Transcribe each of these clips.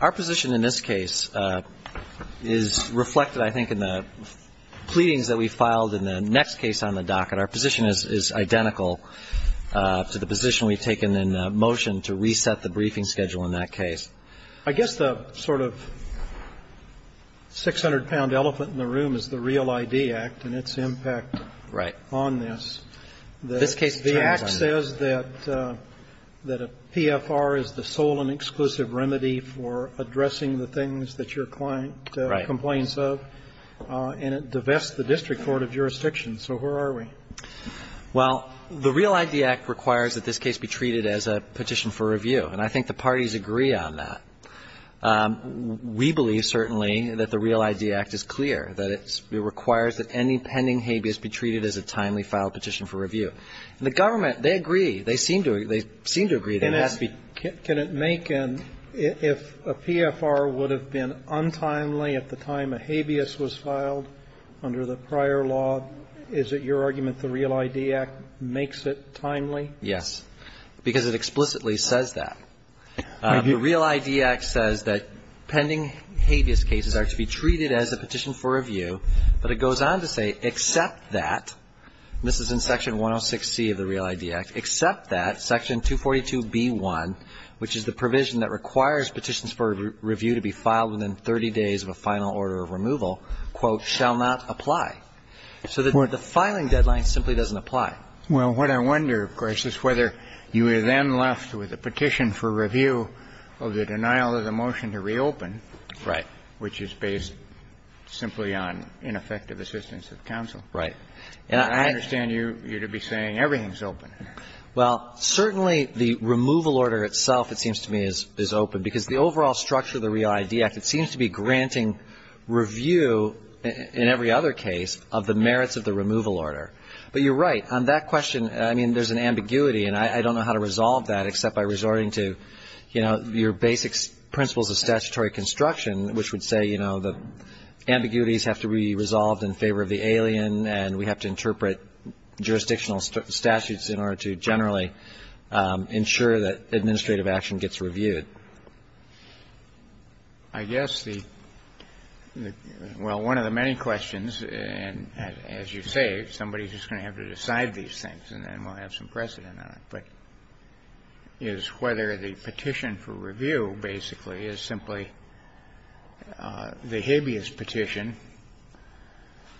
Our position in this case is reflected I think in the pleadings that we filed in the next case on the docket. Our position is identical to the position we've taken in motion to reset the briefing schedule in that case. I guess the sort of 600-pound elephant in the room is the REAL ID Act and its impact on this. Right. The REAL ID Act requires that this case be treated as a petition for review, and I think the parties agree on that. We believe, certainly, that the REAL ID Act is clear, that it requires that any pending habeas be treated as a timely filed petition for review. And the government, they agree. They seem to agree. They seem to agree that it has to be. If a PFR would have been untimely at the time a habeas was filed under the prior law, is it your argument the REAL ID Act makes it timely? Yes. Because it explicitly says that. The REAL ID Act says that pending habeas cases are to be treated as a petition for review, but it goes on to say, except that, and this is in Section 106C of the REAL ID Act, except that Section 242B1, which is the provision that requires petitions for review to be filed within 30 days of a final order of removal, quote, shall not apply. So the filing deadline simply doesn't apply. Well, what I wonder, of course, is whether you are then left with a petition for review of the denial of the motion to reopen. Right. Which is based simply on ineffective assistance of counsel. And I understand you're to be saying everything's open. Well, certainly the removal order itself, it seems to me, is open. Because the overall structure of the REAL ID Act, it seems to be granting review, in every other case, of the merits of the removal order. But you're right. On that question, I mean, there's an ambiguity, and I don't know how to resolve that except by resorting to, you know, your basic principles of statutory construction, which would say, you know, the ambiguities have to be resolved in favor of the alien and we have to interpret jurisdictional statutes in order to generally ensure that administrative action gets reviewed. I guess the — well, one of the many questions, and as you say, somebody's just going to have to decide these things and then we'll have some precedent on it, but is whether the petition for review basically is simply the habeas petition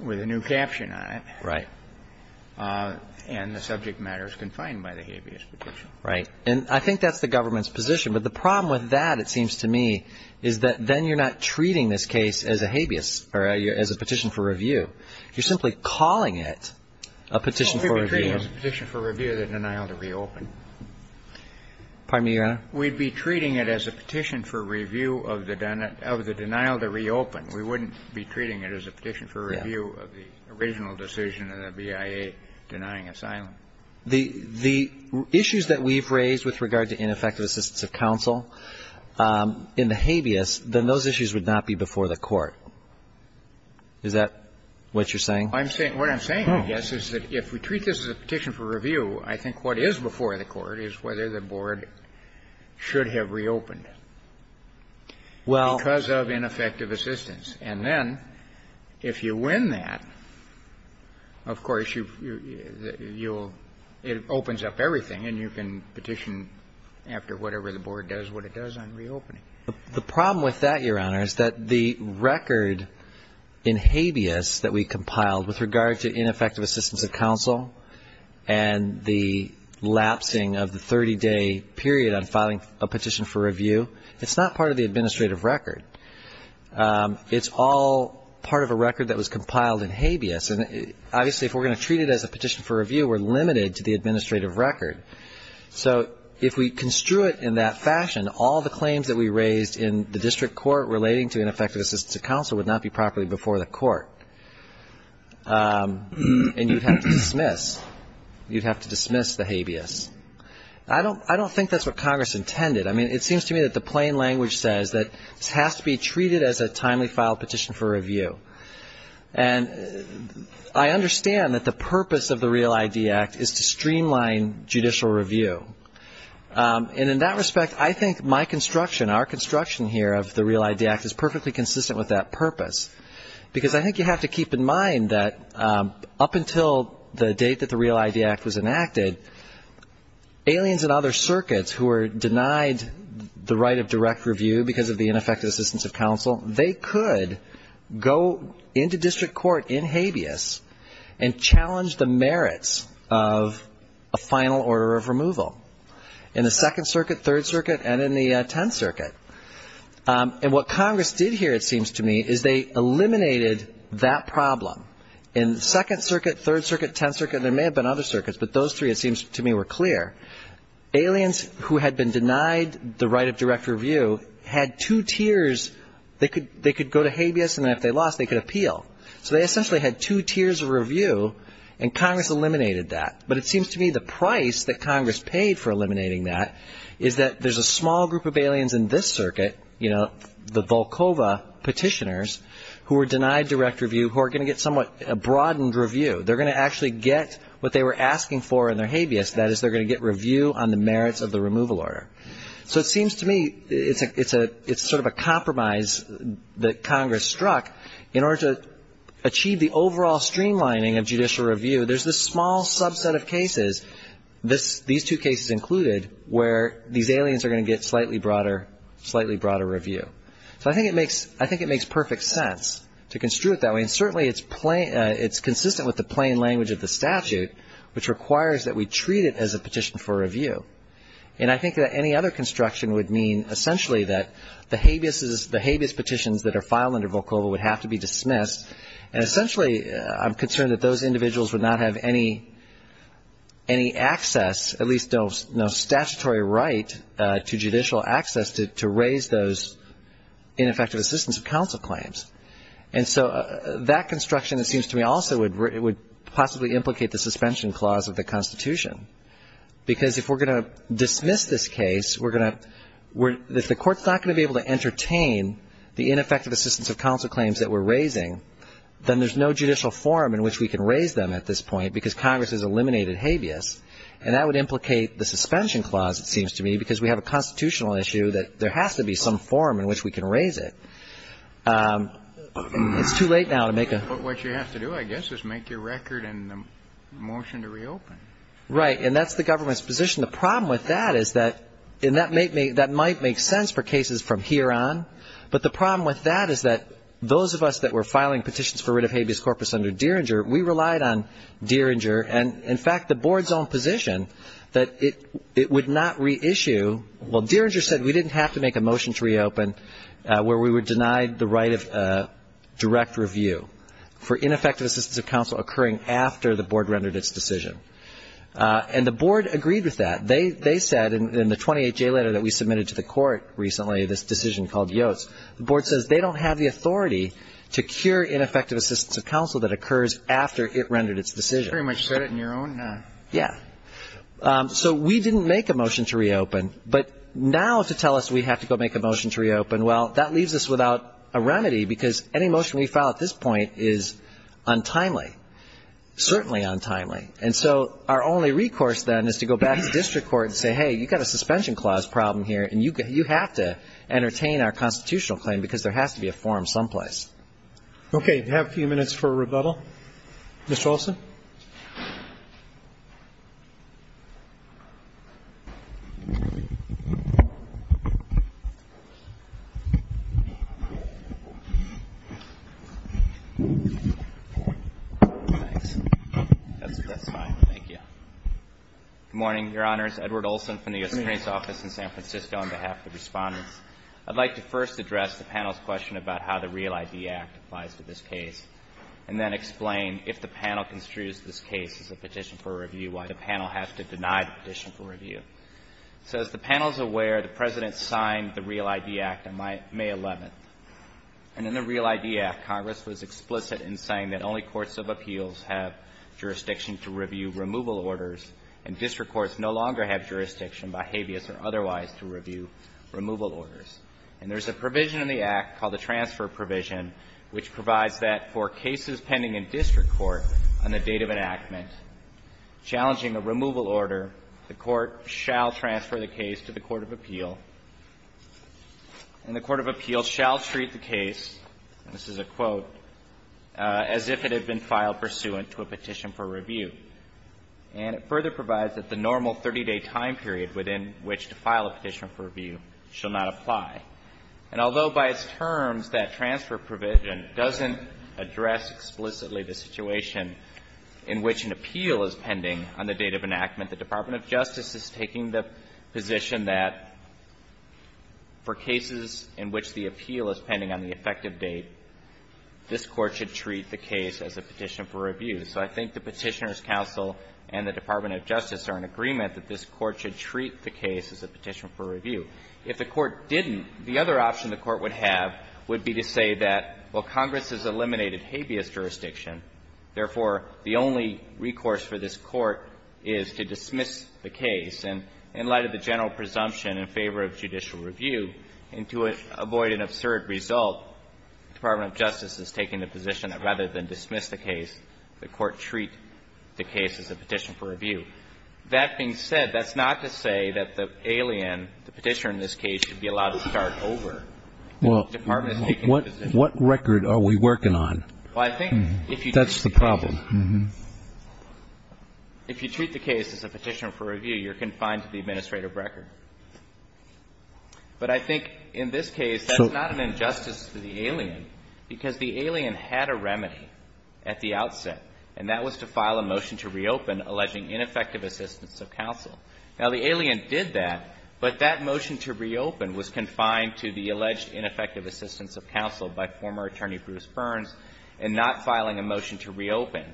with a new caption on it. Right. And the subject matter is confined by the habeas petition. Right. And I think that's the government's position. But the problem with that, it seems to me, is that then you're not treating this case as a habeas or as a petition for review. You're simply calling it a petition for review. Well, if you're treating it as a petition for review, then I ought to reopen. Pardon me, Your Honor. We'd be treating it as a petition for review of the denial to reopen. We wouldn't be treating it as a petition for review of the original decision of the BIA denying asylum. The issues that we've raised with regard to ineffective assistance of counsel in the habeas, then those issues would not be before the Court. Is that what you're saying? I'm saying — what I'm saying, I guess, is that if we treat this as a petition for review, then the question that we have to ask the Court is whether the Board should have reopened because of ineffective assistance. And then if you win that, of course, you'll — it opens up everything, and you can petition after whatever the Board does what it does on reopening. The problem with that, Your Honor, is that the record in habeas that we compiled with regard to ineffective assistance of counsel and the lapsing of the 30-day period on filing a petition for review, it's not part of the administrative record. It's all part of a record that was compiled in habeas. And obviously, if we're going to treat it as a petition for review, we're limited to the administrative record. So if we construe it in that fashion, all the claims that we raised in the district court relating to ineffective assistance of counsel would not be properly before the Court. And you'd have to dismiss — you'd have to dismiss the habeas. I don't — I don't think that's what Congress intended. I mean, it seems to me that the plain language says that this has to be treated as a timely filed petition for review. And I understand that the purpose of the REAL ID Act is to streamline judicial review. And in that respect, I think my construction, our construction here of the REAL ID Act is perfectly consistent with that purpose. Because I think you have to keep in mind that up until the date that the REAL ID Act was enacted, aliens and other circuits who were denied the right of direct review because of the ineffective assistance of counsel, they could go into district court in habeas and challenge the Second Circuit, Third Circuit, and in the Tenth Circuit. And what Congress did here, it seems to me, is they eliminated that problem. In Second Circuit, Third Circuit, Tenth Circuit, and there may have been other circuits, but those three, it seems to me, were clear. Aliens who had been denied the right of direct review had two tiers. They could go to habeas, and if they lost, they could appeal. So they essentially had two tiers of review, and Congress eliminated that. But it seems to me the price that Congress paid for eliminating that is that there's a small group of aliens in this circuit, you know, the Volkova petitioners who were denied direct review who are going to get somewhat a broadened review. They're going to actually get what they were asking for in their habeas. That is, they're going to get review on the merits of the removal order. So it seems to me it's sort of a compromise that Congress struck. In order to achieve the overall streamlining of judicial review, there's this small subset of cases, these two cases included, where these aliens are going to get slightly broader review. So I think it makes perfect sense to construe it that way, and certainly it's consistent with the plain language of the statute, which requires that we treat it as a petition for review. And I think that any other construction would mean essentially that the habeas petitions that are filed under Volkova would have to be dismissed. And essentially I'm concerned that those individuals would not have any access, at least no statutory right, to judicial access to raise those ineffective assistance of counsel claims. And so that construction, it seems to me, also would possibly implicate the suspension clause of the Constitution. Because if we're going to dismiss this case, we're going to — if the court's not going to be able to entertain the ineffective assistance of counsel claims that we're raising, then there's no judicial forum in which we can raise them at this point, because Congress has eliminated habeas. And that would implicate the suspension clause, it seems to me, because we have a constitutional issue that there has to be some forum in which we can raise it. It's too late now to make a — But what you have to do, I guess, is make your record and the motion to reopen. Right. And that's the government's position. The problem with that is that — and that might make sense for cases from here on. But the problem with that is that those of us that were filing petitions for writ of habeas corpus under Dieringer, we relied on Dieringer and, in fact, the board's own position that it would not reissue. Well, Dieringer said we didn't have to make a motion to reopen where we were denied the right of direct review for ineffective assistance of counsel occurring after the board rendered its decision. And the board agreed with that. They said in the 28-J letter that we submitted to the court recently, this decision called Yotes, the board says they don't have the authority to cure ineffective assistance of counsel that occurs after it rendered its decision. You pretty much said it in your own — Yeah. So we didn't make a motion to reopen. But now to tell us we have to go make a motion to reopen, well, that leaves us without a remedy, because any motion we file at this point is untimely, certainly untimely. And so our only recourse then is to go back to district court and say, hey, you've got a suspension clause problem here, and you have to entertain our constitutional claim, because there has to be a forum someplace. Okay. We have a few minutes for rebuttal. Mr. Olson. Good morning, Your Honors. Edward Olson from the U.S. Attorney's Office in San Francisco on behalf of the Respondents. I'd like to first address the panel's question about how the REAL ID Act applies to this case, and then explain if the panel construes this case as a petition for review, why the panel has to deny the petition for review. So as the panel is aware, the President signed the REAL ID Act on May 11th. And in the REAL ID Act, Congress was explicit in saying that only courts of appeals have jurisdiction to review removal orders, and district courts no longer have jurisdiction by habeas or otherwise to review removal orders. And there's a provision in the Act called the transfer provision, which provides that for cases pending in district court on the date of enactment challenging a removal order, the court shall transfer the case to the court of appeal, and the court of appeals shall treat the case, and this is a quote, as if it had been filed pursuant to a petition for review. And it further provides that the normal 30-day time period within which to file a petition for review shall not apply. And although by its terms, that transfer provision doesn't address explicitly the situation in which an appeal is pending on the date of enactment, the Department of Justice is taking the position that for cases in which the appeal is pending on the effective date, this Court should treat the case as a petition for review. So I think the Petitioner's counsel and the Department of Justice are in agreement that this Court should treat the case as a petition for review. If the Court didn't, the other option the Court would have would be to say that, well, Congress has eliminated habeas jurisdiction, therefore, the only recourse for this Court is to dismiss the case. And in light of the general presumption in favor of judicial review, and to avoid an absurd result, the Department of Justice is taking the position that rather than dismiss the case, the Court treat the case as a petition for review. That being said, that's not to say that the alien, the Petitioner in this case, should be allowed to start over. The Department is taking the position. Well, what record are we working on? Well, I think if you treat the case as a petitioner for review, you're confined to the administrative record. But I think in this case, that's not an injustice to the alien, because the alien had a remedy at the outset, and that was to file a motion to reopen alleging ineffective assistance of counsel. Now, the alien did that, but that motion to reopen was confined to the alleged ineffective assistance of counsel by former attorney Bruce Burns and not filing a motion to reopen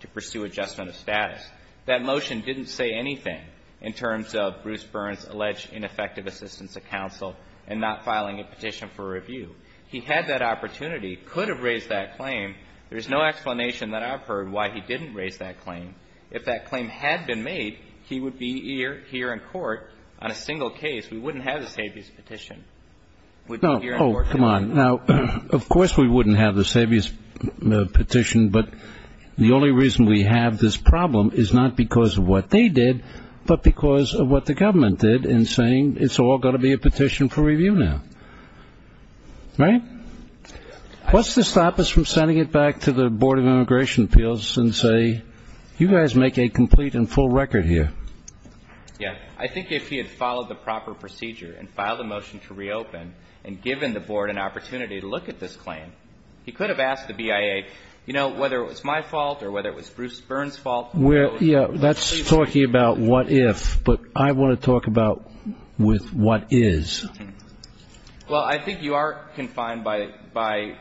to pursue adjustment of status. That motion didn't say anything in terms of Bruce Burns' alleged ineffective assistance of counsel and not filing a petition for review. He had that opportunity, could have raised that claim. If that claim had been made, he would be here in court on a single case. We wouldn't have this habeas petition. Oh, come on. Now, of course we wouldn't have this habeas petition, but the only reason we have this problem is not because of what they did, but because of what the government did in saying it's all going to be a petition for review now. Right? What's to stop us from sending it back to the Board of Immigration Appeals and say, you guys make a complete and full record here? Yeah. I think if he had followed the proper procedure and filed a motion to reopen and given the Board an opportunity to look at this claim, he could have asked the BIA, you know, whether it was my fault or whether it was Bruce Burns' fault. Yeah. That's talking about what if, but I want to talk about with what is. Well, I think you are confined by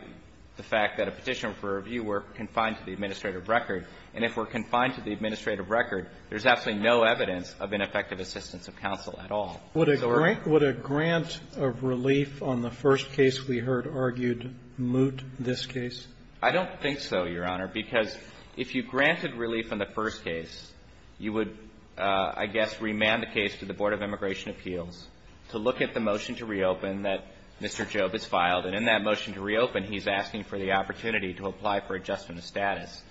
the fact that a petition for review were confined to the administrative record. And if we're confined to the administrative record, there's absolutely no evidence of ineffective assistance of counsel at all. Would a grant of relief on the first case we heard argued moot this case? I don't think so, Your Honor, because if you granted relief on the first case, you would, I guess, remand the case to the Board of Immigration Appeals to look at the motion to reopen that Mr. Jobe has filed. And in that motion to reopen, he's asking for the opportunity to apply for adjustment of status.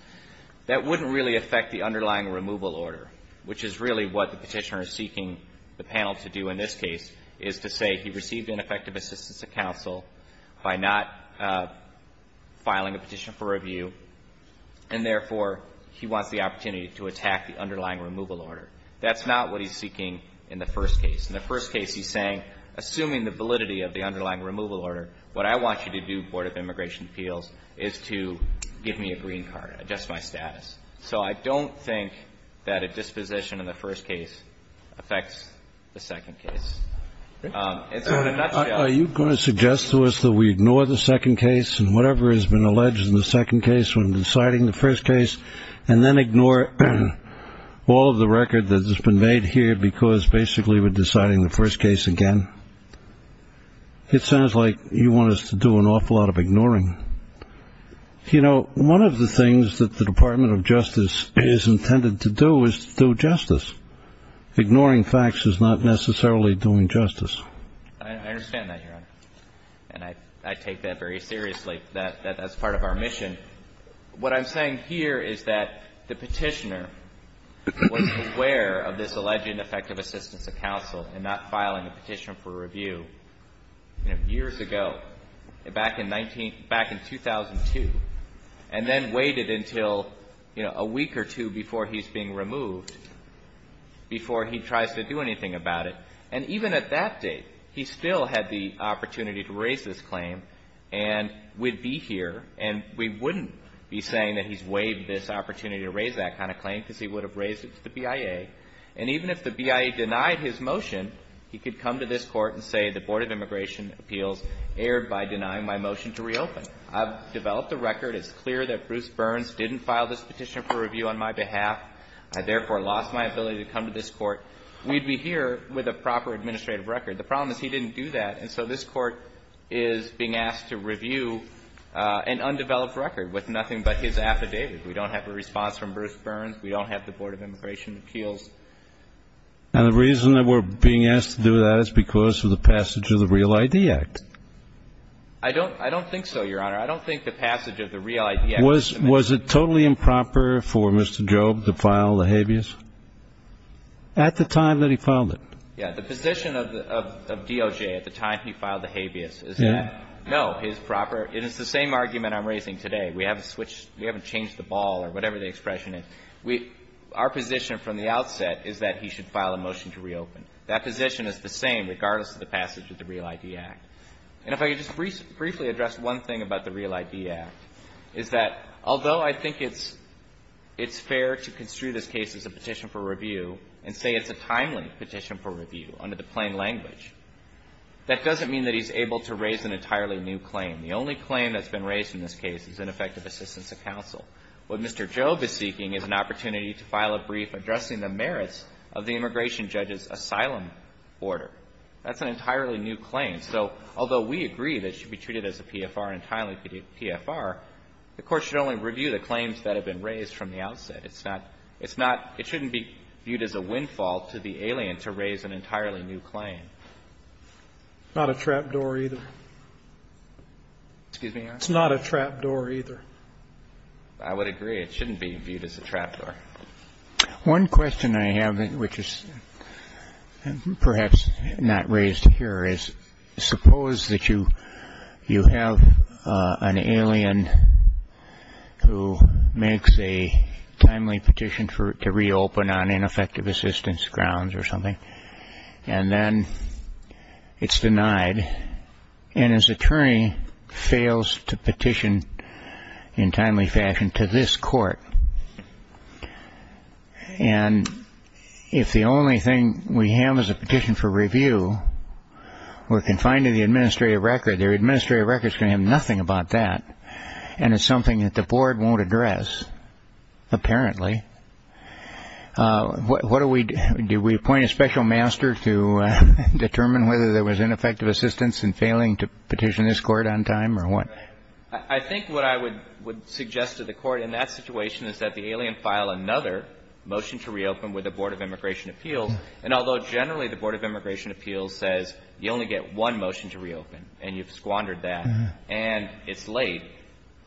That wouldn't really affect the underlying removal order, which is really what the Petitioner is seeking the panel to do in this case, is to say he received ineffective assistance of counsel by not filing a petition for review, and therefore, he wants the opportunity to attack the underlying removal order. That's not what he's seeking in the first case. In the first case, he's saying, assuming the validity of the underlying removal order, what I want you to do, Board of Immigration Appeals, is to give me a green card, adjust my status. So I don't think that a disposition in the first case affects the second case. In a nutshell ---- Are you going to suggest to us that we ignore the second case and whatever has been alleged in the second case when deciding the first case, and then ignore all of the record that has been made here because basically we're deciding the first case again? It sounds like you want us to do an awful lot of ignoring. You know, one of the things that the Department of Justice is intended to do is to do justice. Ignoring facts is not necessarily doing justice. I understand that, Your Honor. And I take that very seriously. That's part of our mission. What I'm saying here is that the Petitioner was aware of this alleged ineffective assistance of counsel in not filing a petition for review, you know, years ago, back in 19 ---- back in 2002, and then waited until, you know, a week or two before he's being removed, before he tries to do anything about it. And even at that date, he still had the opportunity to raise this claim and would be here. And we wouldn't be saying that he's waived this opportunity to raise that kind of claim because he would have raised it to the BIA. And even if the BIA denied his motion, he could come to this Court and say the Board of Immigration Appeals erred by denying my motion to reopen. I've developed a record. It's clear that Bruce Burns didn't file this petition for review on my behalf. I, therefore, lost my ability to come to this Court. We'd be here with a proper administrative record. The problem is he didn't do that. And so this Court is being asked to review an undeveloped record with nothing but his affidavit. We don't have a response from Bruce Burns. We don't have the Board of Immigration Appeals. And the reason that we're being asked to do that is because of the passage of the Real ID Act. I don't ---- I don't think so, Your Honor. I don't think the passage of the Real ID Act was a mistake. Was it totally improper for Mr. Job to file the habeas at the time that he filed the habeas? Yeah. The position of DOJ at the time he filed the habeas is that, no, his proper ---- it is the same argument I'm raising today. We haven't switched ---- we haven't changed the ball or whatever the expression is. We ---- our position from the outset is that he should file a motion to reopen. That position is the same regardless of the passage of the Real ID Act. And if I could just briefly address one thing about the Real ID Act, is that although I think it's fair to construe this case as a petition for review and say it's a timely petition for review under the plain language, that doesn't mean that he's able to raise an entirely new claim. The only claim that's been raised in this case is ineffective assistance of counsel. What Mr. Job is seeking is an opportunity to file a brief addressing the merits of the immigration judge's asylum order. That's an entirely new claim. So although we agree that it should be treated as a PFR, an entirely PFR, the Court should only review the claims that have been raised from the outset. It's not ---- it's not ---- it shouldn't be viewed as a windfall to the alien to raise an entirely new claim. Not a trap door either. Excuse me, Your Honor? It's not a trap door either. I would agree. It shouldn't be viewed as a trap door. One question I have, which is perhaps not raised here, is suppose that you ---- you have an alien who makes a timely petition to reopen on ineffective assistance grounds or something, and then it's denied, and his attorney fails to petition in timely fashion to this Court. And if the only thing we have is a petition for review, we're confined to the administrative records. We're going to have nothing about that. And it's something that the Board won't address, apparently. What do we do? Do we appoint a special master to determine whether there was ineffective assistance in failing to petition this Court on time or what? I think what I would suggest to the Court in that situation is that the alien file another motion to reopen with the Board of Immigration Appeals. And although generally the Board of Immigration Appeals says you only get one motion to reopen and you've squandered that and it's late,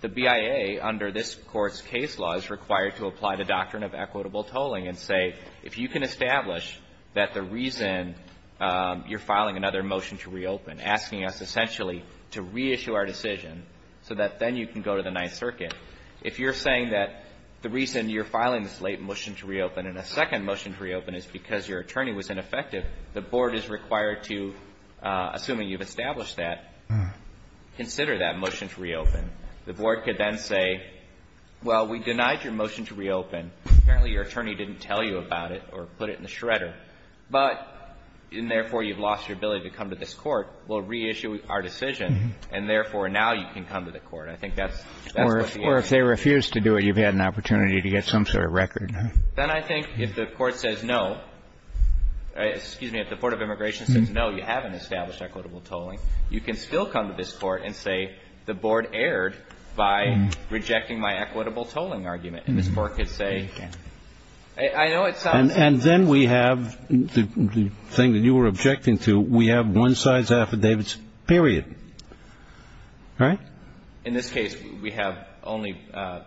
the BIA under this Court's case law is required to apply the doctrine of equitable tolling and say, if you can establish that the reason you're filing another motion to reopen, asking us essentially to reissue our decision so that then you can go to the Ninth Circuit, if you're saying that the reason you're filing this late motion to reopen and a second motion to reopen is because your attorney was ineffective, the Board is required to, assuming you've established that, consider that motion to reopen. The Board could then say, well, we denied your motion to reopen. Apparently, your attorney didn't tell you about it or put it in the shredder. But therefore, you've lost your ability to come to this Court. We'll reissue our decision. And therefore, now you can come to the Court. I think that's what the answer is. Kennedy. Or if they refuse to do it, you've had an opportunity to get some sort of record. Then I think if the Court says no, excuse me, if the Board of Immigration says no, you haven't established equitable tolling, you can still come to this Court and say, the Board erred by rejecting my equitable tolling argument. And this Court could say, I know it sounds. And then we have the thing that you were objecting to. We have one size affidavits, period. Right? In this case, we have only the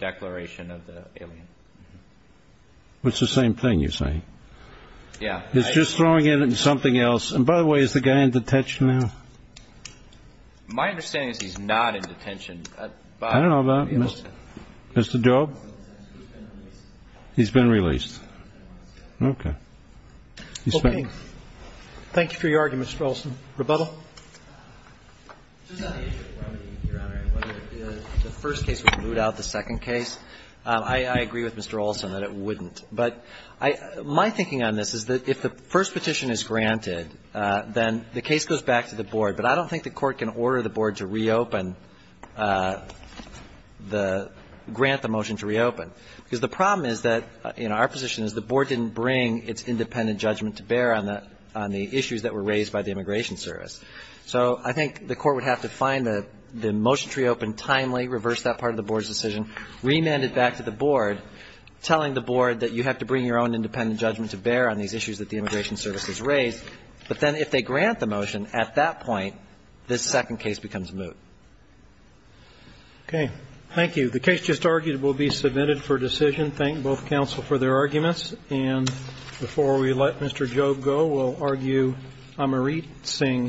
declaration of the alien. It's the same thing, you're saying? Yeah. It's just throwing in something else. And by the way, is the guy in detention now? My understanding is he's not in detention. I don't know about Mr. Job. Okay. Thank you for your argument, Mr. Olson. Rebuttal? It's just on the issue of remedy, Your Honor, and whether the first case would root out the second case. I agree with Mr. Olson that it wouldn't. But my thinking on this is that if the first petition is granted, then the case goes back to the Board. But I don't think the Court can order the Board to reopen, grant the motion to reopen. Because the problem is that, you know, our position is the Board didn't bring its independent judgment to bear on the issues that were raised by the Immigration Service. So I think the Court would have to find the motion to reopen timely, reverse that part of the Board's decision, remand it back to the Board, telling the Board that you have to bring your own independent judgment to bear on these issues that the Immigration Service has raised. But then if they grant the motion at that point, this second case becomes moot. Okay. Thank you. The case just argued will be submitted for decision. Thank both counsel for their arguments. And before we let Mr. Jobe go, we'll argue Amrit Singh's case.